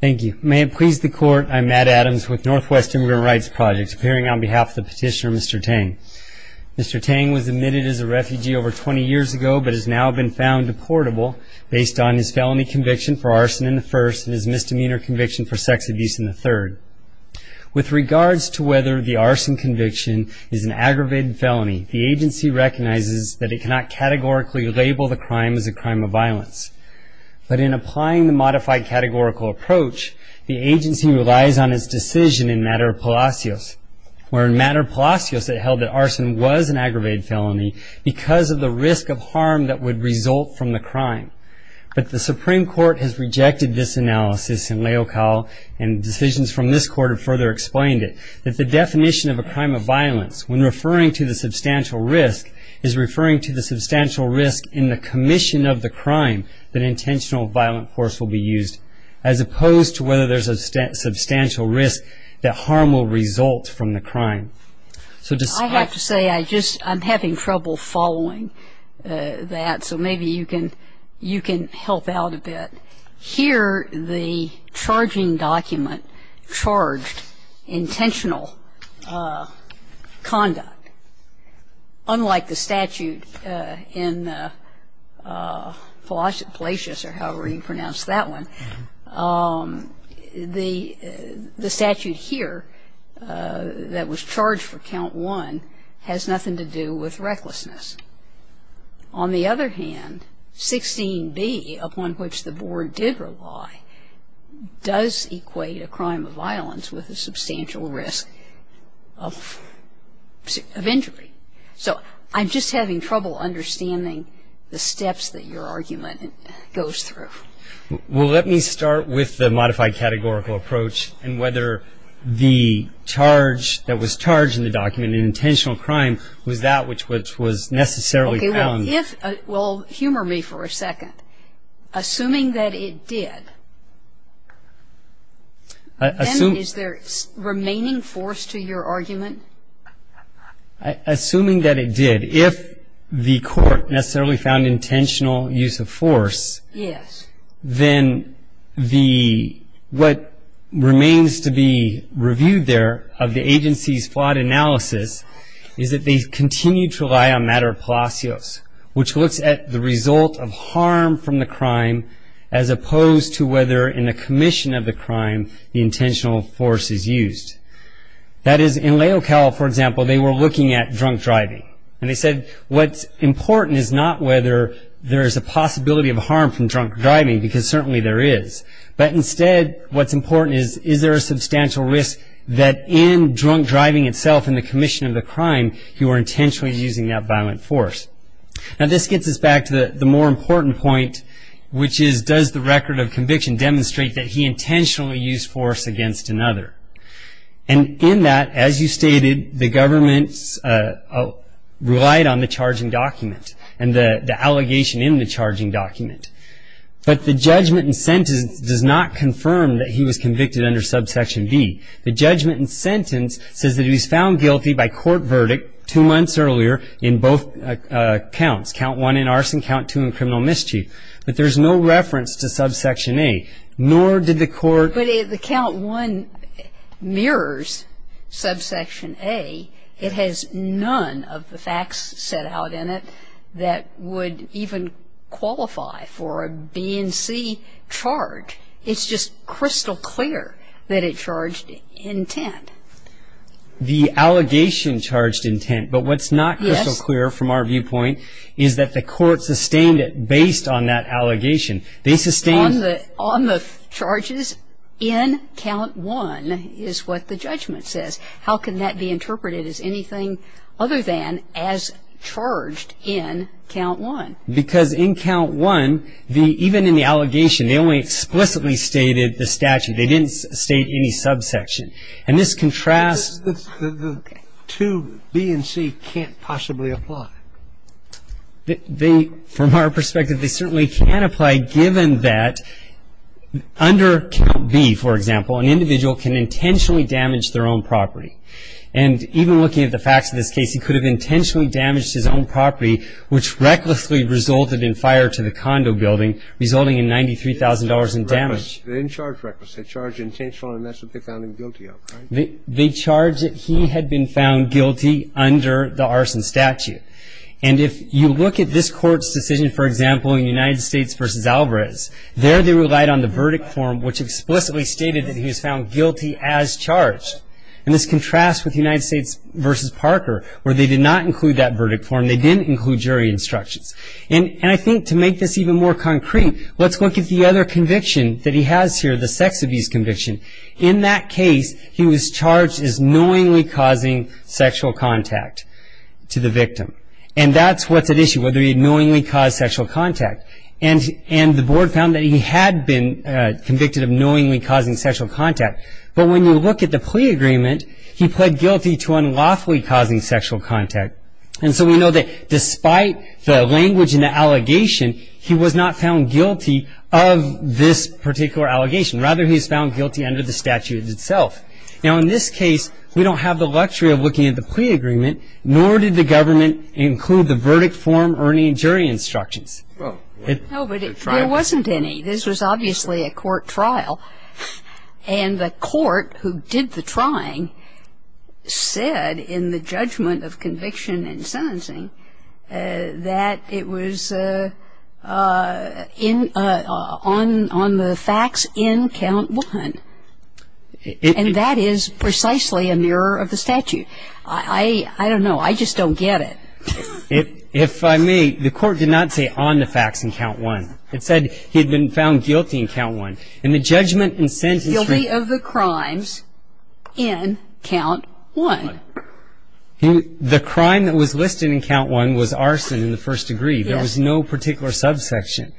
Thank you. May it please the Court, I'm Matt Adams with Northwest Immigrant Rights Project, appearing on behalf of the petitioner, Mr. Tang. Mr. Tang was admitted as a refugee over 20 years ago, but has now been found deportable based on his felony conviction for arson in the first and his misdemeanor conviction for sex abuse in the third. With regards to whether the arson conviction is an aggravated felony, the agency recognizes that it cannot categorically label the crime as a crime of violence. But in applying the modified categorical approach, the agency relies on its decision in Mater Palacios, where in Mater Palacios it held that arson was an aggravated felony because of the risk of harm that would result from the crime. But the Supreme Court has rejected this analysis in Leocal, and decisions from this Court have further explained it, that the definition of a crime of violence, when referring to the substantial risk, is referring to the substantial risk in the commission of the crime that intentional violent force will be used, as opposed to whether there's a substantial risk that harm will result from the crime. I have to say, I'm having trouble following that, so maybe you can help out a bit. Here, the charging document charged intentional conduct. Unlike the statute in Palacios, or however you pronounce that one, the statute here that was charged for count one has nothing to do with recklessness. On the other hand, 16b, upon which the Board did rely, does equate a crime of violence with a substantial risk of injury. So I'm just having trouble understanding the steps that your argument goes through. Well, let me start with the modified categorical approach, and whether the charge that was charged in the document, an intentional crime, was that which was necessarily found. Well, humor me for a second. Assuming that it did, then is there remaining force to your argument? Assuming that it did. If the Court necessarily found intentional use of force, then what remains to be reviewed there of the agency's flawed analysis is that they continue to rely on matter of Palacios, which looks at the result of harm from the crime, as opposed to whether in the commission of the crime, the intentional force is used. That is, in Leocal, for example, they were looking at drunk driving. And they said what's important is not whether there is a possibility of harm from drunk driving, because certainly there is. But instead, what's important is, is there a substantial risk that in drunk driving itself in the commission of the crime, you are intentionally using that violent force? Now this gets us back to the more important point, which is does the record of conviction demonstrate that he intentionally used force against another? And in that, as you stated, the government relied on the charging document and the allegation in the charging document. But the judgment and sentence does not confirm that he was convicted under subsection B. The judgment and sentence says that he was found guilty by court verdict two months earlier in both counts, count one in arson, count two in criminal mischief. But there's no reference to subsection A, nor did the Court But the count one mirrors subsection A. It has none of the facts set out in it that would even qualify for a B and C charge. It's just crystal clear that it charged intent. The allegation charged intent. But what's not crystal clear from our viewpoint is that the Court sustained it based on that allegation. They sustained On the charges in count one is what the judgment says. How can that be interpreted as anything other than as charged in count one? Because in count one, even in the allegation, they only explicitly stated the statute. They didn't state any subsection. And this contrasts The two B and C can't possibly apply. From our perspective, they certainly can apply given that under count B, for example, an individual can intentionally damage their own property. And even looking at the facts of this case, he could have intentionally damaged his own property, which recklessly resulted in fire to the condo building, resulting in $93,000 in damage. They didn't charge reckless. They charged intentional, and that's what they found him guilty of, right? They charged that he had been found guilty under the arson statute. And if you look at this Court's decision, for example, in United States v. Alvarez, there they relied on the verdict form, which explicitly stated that he was found guilty as charged. And this contrasts with United States v. Parker, where they did not include that verdict form. They didn't include jury instructions. And I think to make this even more concrete, let's look at the other conviction that he has here, the sex abuse conviction. In that case, he was charged as knowingly causing sexual contact to the victim. And that's what's at issue, whether he had knowingly caused sexual contact. And the board found that he had been convicted of knowingly causing sexual contact. But when you look at the plea agreement, he pled guilty to unlawfully causing sexual contact. And so we know that despite the language in the allegation, he was not found guilty of this particular allegation. Rather, he was found guilty under the statute itself. Now, in this case, we don't have the luxury of looking at the plea agreement, nor did the government include the verdict form or any jury instructions. No, but there wasn't any. This was obviously a court trial. And the court who did the trying said in the judgment of conviction and sentencing that it was on the facts in count one. And that is precisely a mirror of the statute. I don't know. I just don't get it. If I may, the court did not say on the facts in count one. It said he had been found guilty in count one. In the judgment and sentencing. Guilty of the crimes in count one. The crime that was listed in count one was arson in the first degree. There was no particular subsection.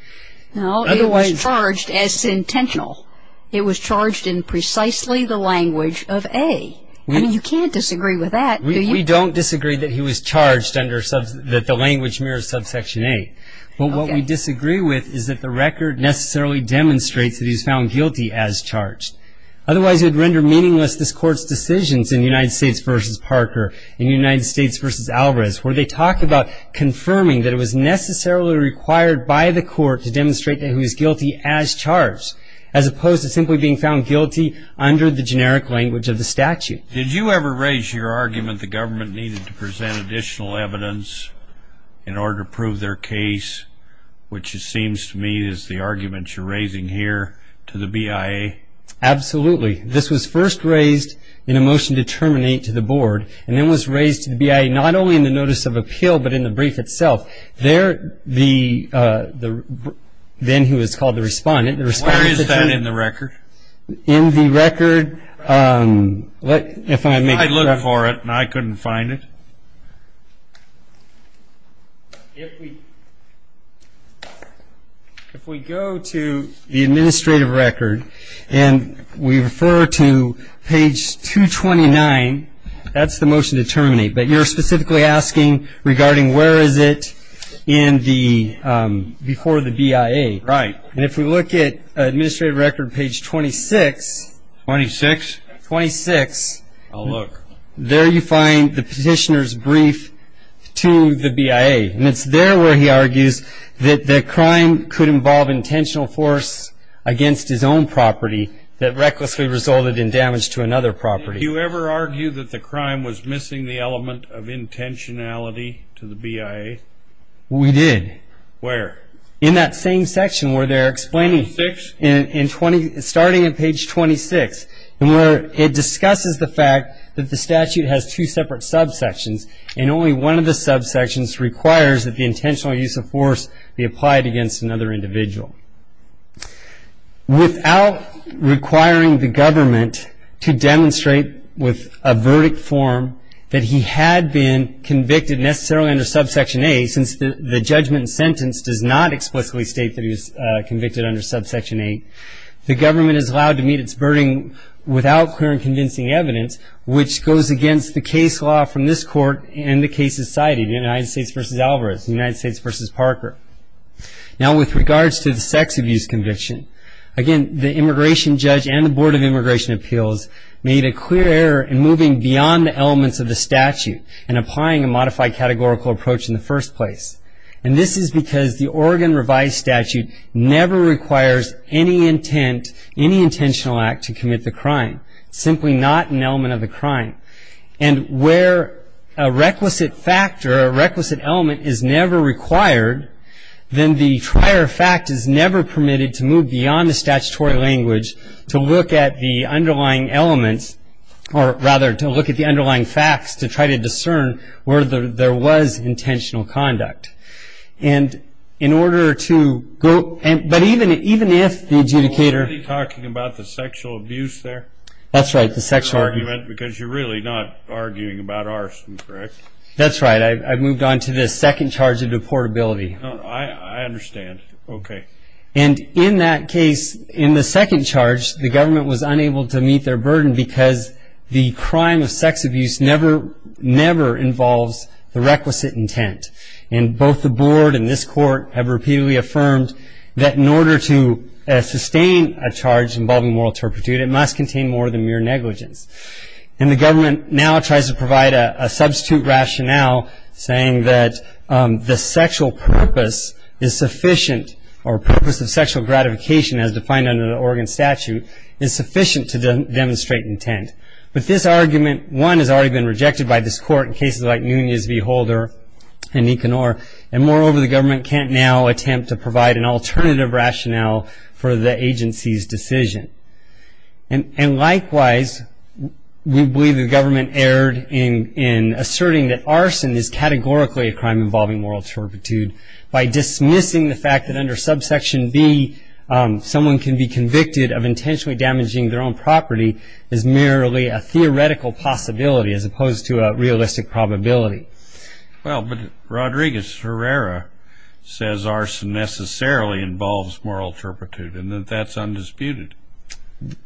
It was charged as intentional. It was charged in precisely the language of A. I mean, you can't disagree with that. We don't disagree that he was charged under the language mirror subsection A. But what we disagree with is that the record necessarily demonstrates that he was found guilty as charged. Otherwise it would render meaningless this court's decisions in United States v. Parker. In United States v. Alvarez where they talk about confirming that it was necessarily required by the court to demonstrate that he was guilty as charged. As opposed to simply being found guilty under the generic language of the statute. Did you ever raise your argument the government needed to present additional evidence in order to prove their case? Which it seems to me is the argument you're raising here to the BIA. Absolutely. This was first raised in a motion to terminate to the board. And it was raised to the BIA not only in the notice of appeal but in the brief itself. There the then who was called the respondent. Where is that in the record? In the record. If I may. I looked for it and I couldn't find it. If we go to the administrative record and we refer to page 229, that's the motion to terminate. But you're specifically asking regarding where is it in the before the BIA. Right. And if we look at administrative record page 26. 26. 26. I'll look. There you find the petitioner's brief to the BIA. And it's there where he argues that the crime could involve intentional force against his own property that recklessly resulted in damage to another property. Did you ever argue that the crime was missing the element of intentionality to the BIA? We did. Where? In that same section where they're explaining. Page 26. And where it discusses the fact that the statute has two separate subsections and only one of the subsections requires that the intentional use of force be applied against another individual. Without requiring the government to demonstrate with a verdict form that he had been convicted necessarily under subsection A, since the judgment sentence does not explicitly state that he was convicted under subsection A, the government is allowed to meet its burden without clear and convincing evidence, which goes against the case law from this court and the cases cited, United States v. Alvarez, United States v. Parker. Now, with regards to the sex abuse conviction, again, the immigration judge and the Board of Immigration Appeals made a clear error in moving beyond the elements of the statute and applying a modified categorical approach in the first place. And this is because the Oregon revised statute never requires any intent, any intentional act to commit the crime, simply not an element of the crime. And where a requisite fact or a requisite element is never required, then the prior fact is never permitted to move beyond the statutory language to look at the underlying elements, or rather, to look at the underlying facts to try to discern whether there was intentional conduct. And in order to go – but even if the adjudicator – Are you talking about the sexual abuse there? That's right, the sexual – Because you're really not arguing about arson, correct? That's right. I've moved on to the second charge of deportability. I understand. Okay. And in that case, in the second charge, the government was unable to meet their burden because the crime of sex abuse never, never involves the requisite intent. And both the board and this court have repeatedly affirmed that in order to sustain a charge involving moral turpitude, it must contain more than mere negligence. And the government now tries to provide a substitute rationale saying that the sexual purpose is sufficient or purpose of sexual gratification as defined under the Oregon statute is sufficient to demonstrate intent. But this argument, one, has already been rejected by this court in cases like Nunez v. Holder and Econor. And moreover, the government can't now attempt to provide an alternative rationale for the agency's decision. And likewise, we believe the government erred in asserting that arson is categorically a crime involving moral turpitude by dismissing the fact that under subsection B, someone can be convicted of intentionally damaging their own property as merely a theoretical possibility as opposed to a realistic probability. Well, but Rodriguez-Ferreira says arson necessarily involves moral turpitude and that that's undisputed.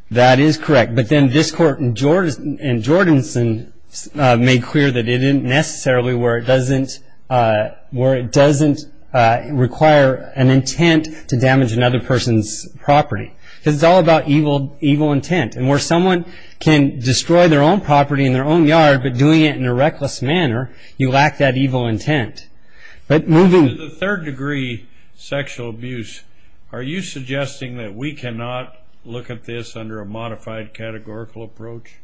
That is correct. But then this court in Jordanson made clear that it isn't necessarily where it doesn't require an intent to damage another person's property because it's all about evil intent. And where someone can destroy their own property in their own yard but doing it in a reckless manner, you lack that evil intent. But moving to the third degree sexual abuse, are you suggesting that we cannot look at this under a modified categorical approach?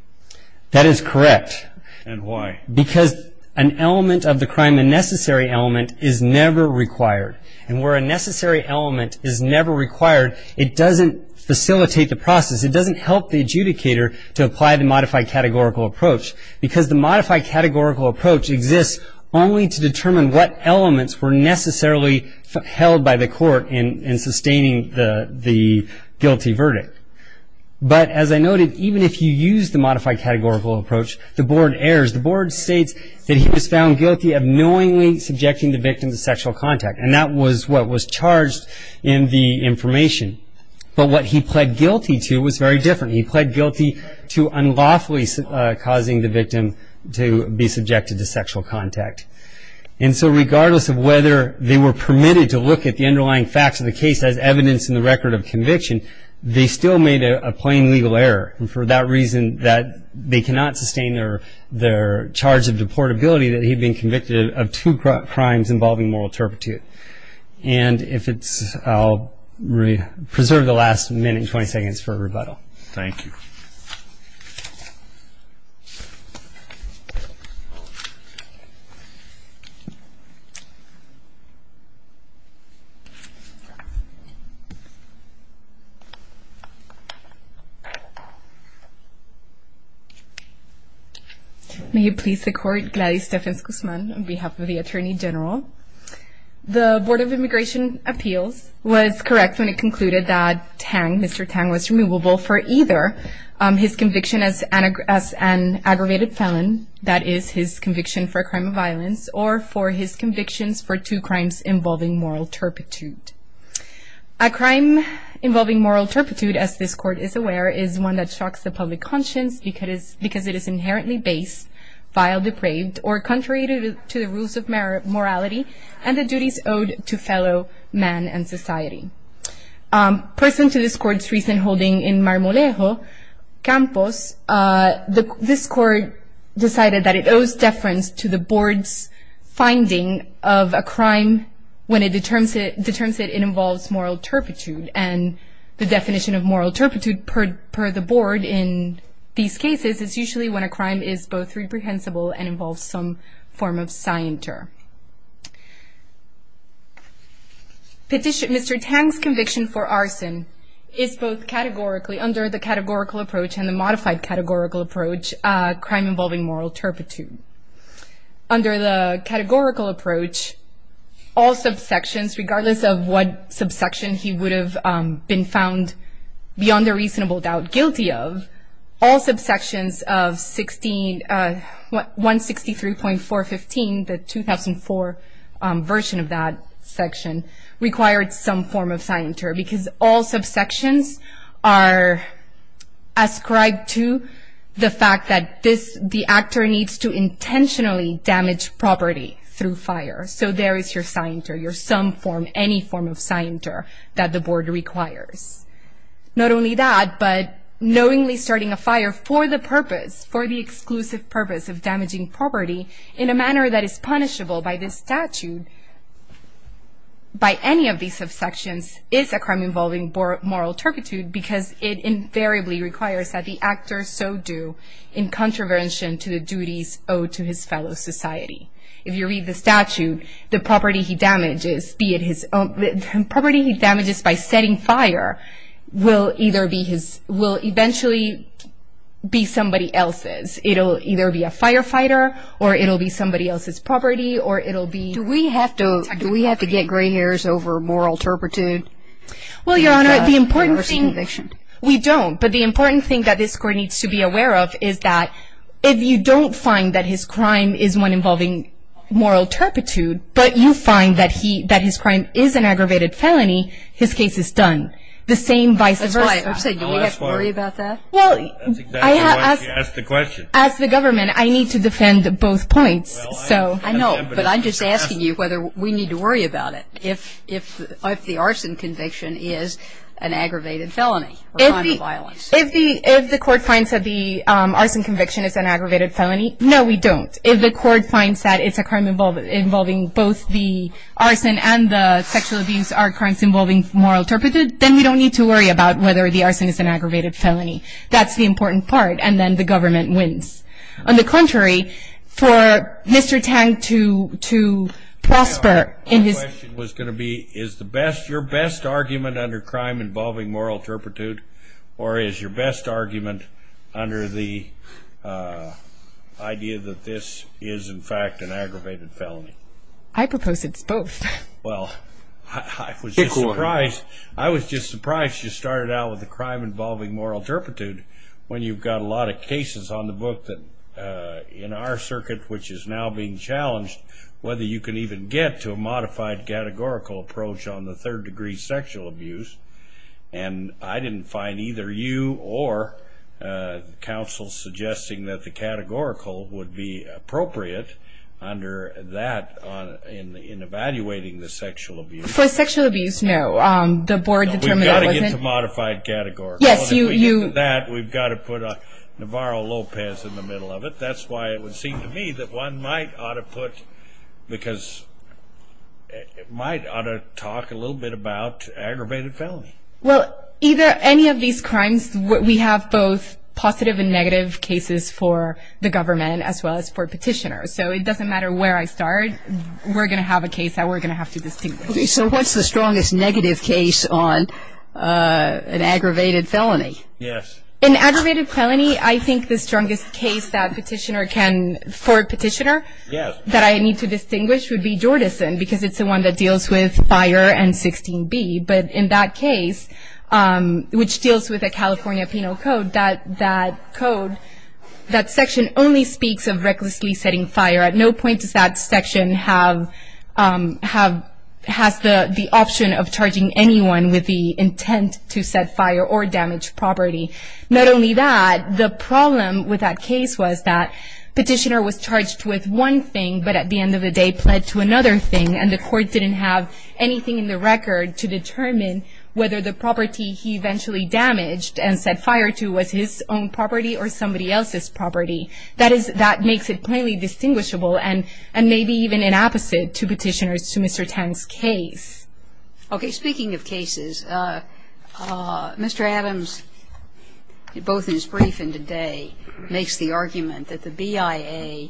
That is correct. And why? Because an element of the crime, a necessary element, is never required. And where a necessary element is never required, it doesn't facilitate the process. It doesn't help the adjudicator to apply the modified categorical approach because the modified categorical approach exists only to determine what elements were necessarily held by the court in sustaining the guilty verdict. But as I noted, even if you use the modified categorical approach, the board errs. The board states that he was found guilty of knowingly subjecting the victim to sexual contact, and that was what was charged in the information. But what he pled guilty to was very different. He pled guilty to unlawfully causing the victim to be subjected to sexual contact. And so regardless of whether they were permitted to look at the underlying facts of the case as evidence in the record of conviction, they still made a plain legal error. And for that reason that they cannot sustain their charge of deportability, that he had been convicted of two crimes involving moral turpitude. And I'll preserve the last minute and 20 seconds for rebuttal. Thank you. Thank you. May it please the Court, Gladys Stephens-Guzman on behalf of the Attorney General. The Board of Immigration Appeals was correct when it concluded that Tang, Mr. Tang, was removable for either his conviction as an aggravated felon, that is his conviction for a crime of violence, or for his convictions for two crimes involving moral turpitude. A crime involving moral turpitude, as this Court is aware, is one that shocks the public conscience because it is inherently base, vile, depraved, or contrary to the rules of morality and the duties owed to fellow man and society. Person to this Court's recent holding in Marmolejo, Campos, this Court decided that it owes deference to the Board's finding of a crime when it determines that it involves moral turpitude. And the definition of moral turpitude per the Board in these cases is usually when a crime is both reprehensible and involves some form of scienter. Mr. Tang's conviction for arson is both categorically, under the categorical approach and the modified categorical approach, a crime involving moral turpitude. Under the categorical approach, all subsections, regardless of what subsection he would have been found beyond a reasonable doubt guilty of, all subsections of 163.415, the 2004 version of that section, required some form of scienter because all subsections are ascribed to the fact that the actor needs to intentionally damage property through fire. So there is your scienter, your some form, any form of scienter that the Board requires. Not only that, but knowingly starting a fire for the purpose, for the exclusive purpose of damaging property, in a manner that is punishable by this statute, by any of these subsections, is a crime involving moral turpitude because it invariably requires that the actor so do in contravention to the duties owed to his fellow society. If you read the statute, the property he damages, be it his own property he damages by setting fire, will eventually be somebody else's. It will either be a firefighter or it will be somebody else's property or it will be... Do we have to get gray hairs over moral turpitude? Well, Your Honor, the important thing... We don't, but the important thing that this Court needs to be aware of is that if you don't find that his crime is one involving moral turpitude, but you find that his crime is an aggravated felony, his case is done. The same vice versa. That's why I said, do we have to worry about that? That's exactly why she asked the question. As the government, I need to defend both points. I know, but I'm just asking you whether we need to worry about it if the arson conviction is an aggravated felony or a crime of violence. If the Court finds that the arson conviction is an aggravated felony, no, we don't. If the Court finds that it's a crime involving both the arson and the sexual abuse are crimes involving moral turpitude, then we don't need to worry about whether the arson is an aggravated felony. That's the important part, and then the government wins. On the contrary, for Mr. Tang to prosper in his... My question was going to be, is your best argument under crime involving moral turpitude or is your best argument under the idea that this is, in fact, an aggravated felony? I propose it's both. Well, I was just surprised you started out with a crime involving moral turpitude when you've got a lot of cases on the book that, in our circuit, which is now being challenged, whether you can even get to a modified categorical approach on the third degree sexual abuse. And I didn't find either you or counsel suggesting that the categorical would be appropriate under that in evaluating the sexual abuse. For sexual abuse, no. The Board determined that wasn't... No, we've got to get to modified categorical. Yes, you... If we get to that, we've got to put Navarro-Lopez in the middle of it. That's why it would seem to me that one might ought to put, because it might ought to talk a little bit about aggravated felony. Well, either any of these crimes, we have both positive and negative cases for the government as well as for petitioners. So it doesn't matter where I start. We're going to have a case that we're going to have to distinguish. Okay, so what's the strongest negative case on an aggravated felony? Yes. An aggravated felony, I think the strongest case that petitioner can... for a petitioner... Yes. ...that I need to distinguish would be Jordison, because it's the one that deals with Fire and 16B. But in that case, which deals with a California penal code, that code, that section only speaks of recklessly setting fire. At no point does that section have the option of charging anyone with the intent to set fire or damage property. Not only that, the problem with that case was that it was one thing, but at the end of the day, pled to another thing and the court didn't have anything in the record to determine whether the property he eventually damaged and set fire to was his own property or somebody else's property. That is, that makes it plainly distinguishable and maybe even an opposite to petitioners to Mr. Tang's case. Okay. Speaking of cases, Mr. Adams, both in his brief and today, makes the argument that the BIA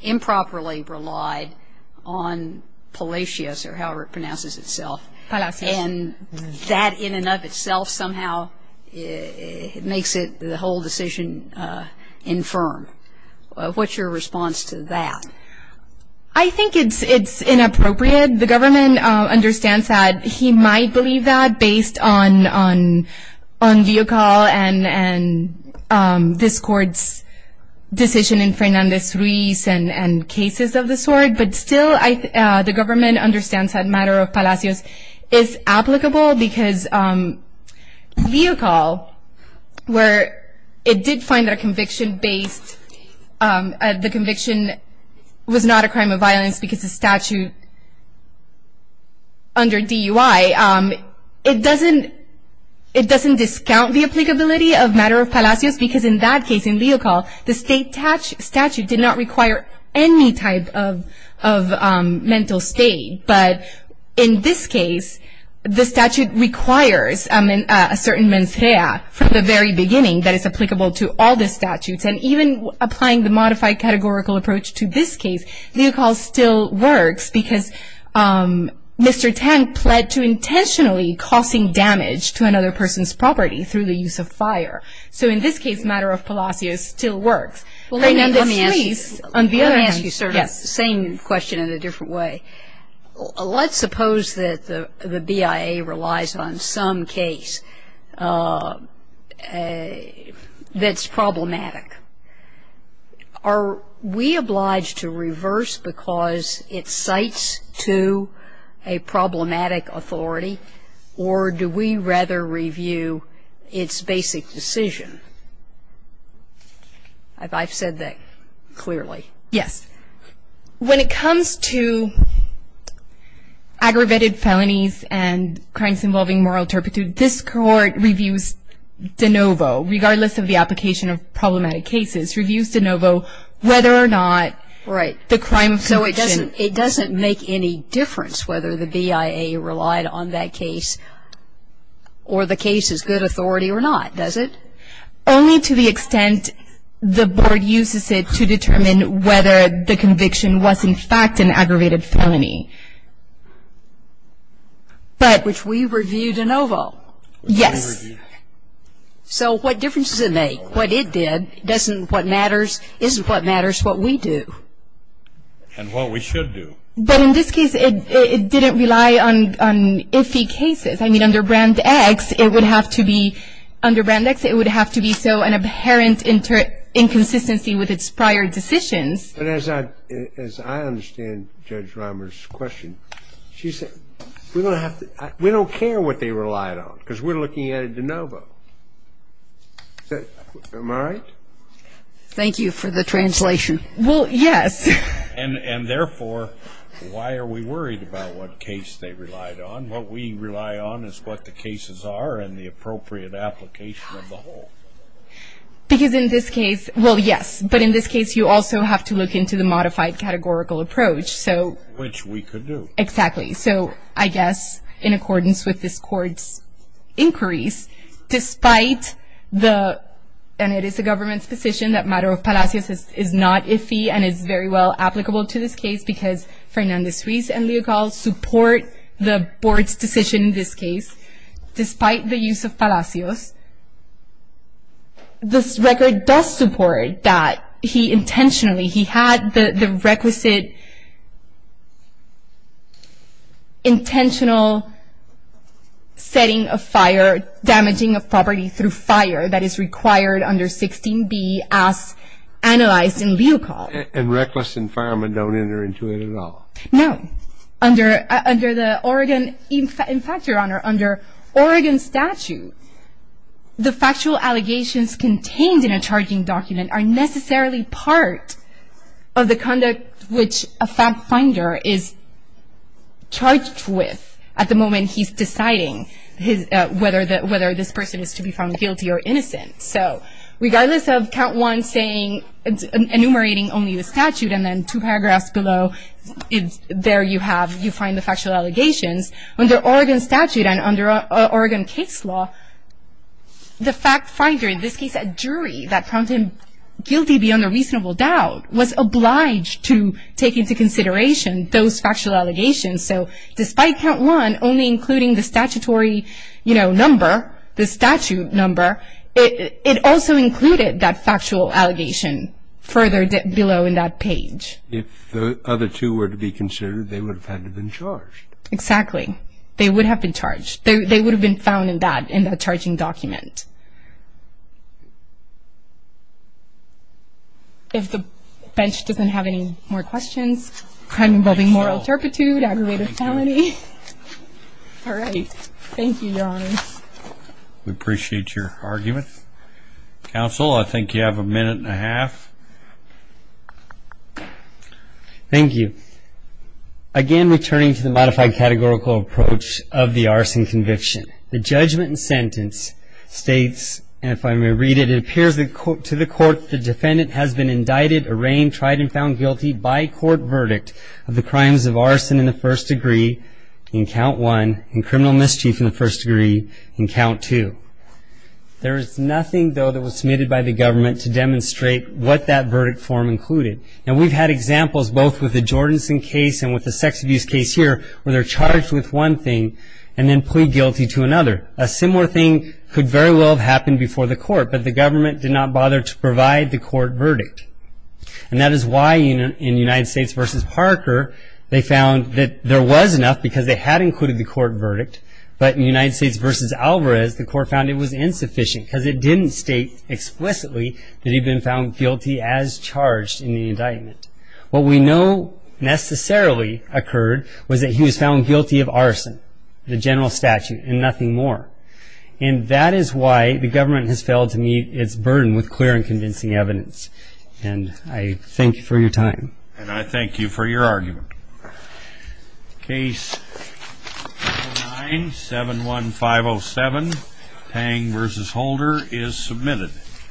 improperly relied on Palacios, or however it pronounces itself. Palacios. And that in and of itself somehow makes the whole decision infirm. What's your response to that? I think it's inappropriate. The government understands that. He might believe that based on Leocall and this court's decision in Fernandez-Ruiz and cases of this sort. But still, the government understands that matter of Palacios is applicable because Leocall, where it did find that a conviction based at the conviction was not a crime of violence because the statute under DUI, it doesn't discount the applicability of matter of Palacios because in that case in Leocall, the statute did not require any type of mental state. But in this case, the statute requires a certain mens rea from the very beginning that is applicable to all the statutes. And even applying the modified categorical approach to this case, Leocall still works because Mr. Tang pled to intentionally causing damage to another person's property through the use of fire. So in this case, matter of Palacios still works. Fernandez-Ruiz. Let me ask you, sir, the same question in a different way. Let's suppose that the BIA relies on some case that's problematic. Are we obliged to reverse because it cites to a problematic authority, or do we rather review its basic decision? I've said that clearly. Yes. When it comes to aggravated felonies and crimes involving moral turpitude, this Court reviews de novo, regardless of the application of problematic cases, reviews de novo whether or not the crime of conviction So it doesn't make any difference whether the BIA relied on that case or the case is good authority or not, does it? Only to the extent the Board uses it to determine whether the conviction was, in fact, an aggravated felony. Which we review de novo. Yes. So what difference does it make? What it did isn't what matters, what we do. And what we should do. But in this case, it didn't rely on iffy cases. I mean, under Brand X, it would have to be, under Brand X, it would have to be so an inherent inconsistency with its prior decisions. But as I understand Judge Rimer's question, she said, we don't care what they relied on because we're looking at a de novo. Am I right? Thank you for the translation. Well, yes. And therefore, why are we worried about what case they relied on? What we rely on is what the cases are and the appropriate application of the whole. Because in this case, well, yes, but in this case you also have to look into the modified categorical approach. Which we could do. Exactly. So I guess in accordance with this Court's inquiries, despite the, and it is the government's position that Matter of Palacios is not iffy and is very well applicable to this case because Fernandez-Ruiz and Leocal support the Board's decision in this case, despite the use of Palacios, this record does support that he intentionally, he had the requisite, intentional setting of fire, damaging of property through fire that is required under 16B as analyzed in Leocal. And reckless and firemen don't enter into it at all? No. Under the Oregon, in fact, Your Honor, under Oregon statute, the factual allegations contained in a charging document are necessarily part of the conduct which a fact finder is charged with at the moment he's deciding whether this person is to be found guilty or innocent. So regardless of count one saying, enumerating only the statute and then two paragraphs below, there you have, you find the factual allegations. Under Oregon statute and under Oregon case law, the fact finder, in this case a jury, that found him guilty beyond a reasonable doubt, was obliged to take into consideration those factual allegations. So despite count one only including the statutory number, the statute number, it also included that factual allegation further below in that page. If the other two were to be considered, they would have had to been charged. Exactly. They would have been charged. They would have been found in that charging document. If the bench doesn't have any more questions, crime involving moral turpitude, aggravated felony. All right. Thank you, Your Honor. We appreciate your argument. Counsel, I think you have a minute and a half. Thank you. Again, returning to the modified categorical approach of the arson conviction, the judgment and sentence states, and if I may read it, it appears to the court the defendant has been indicted, arraigned, tried, and found guilty by court verdict of the crimes of arson in the first degree in count one and criminal mischief in the first degree in count two. There is nothing, though, that was submitted by the government to demonstrate what that verdict form included. And we've had examples both with the Jordanson case and with the sex abuse case here where they're charged with one thing and then plead guilty to another. A similar thing could very well have happened before the court, but the government did not bother to provide the court verdict. And that is why in United States v. Parker, they found that there was enough because they had included the court verdict, but in United States v. Alvarez, the court found it was insufficient because it didn't state explicitly that he'd been found guilty as charged in the indictment. What we know necessarily occurred was that he was found guilty of arson, the general statute, and nothing more. And that is why the government has failed to meet its burden with clear and convincing evidence. And I thank you for your time. And I thank you for your argument. Case 9-71507, Pang v. Holder, is submitted.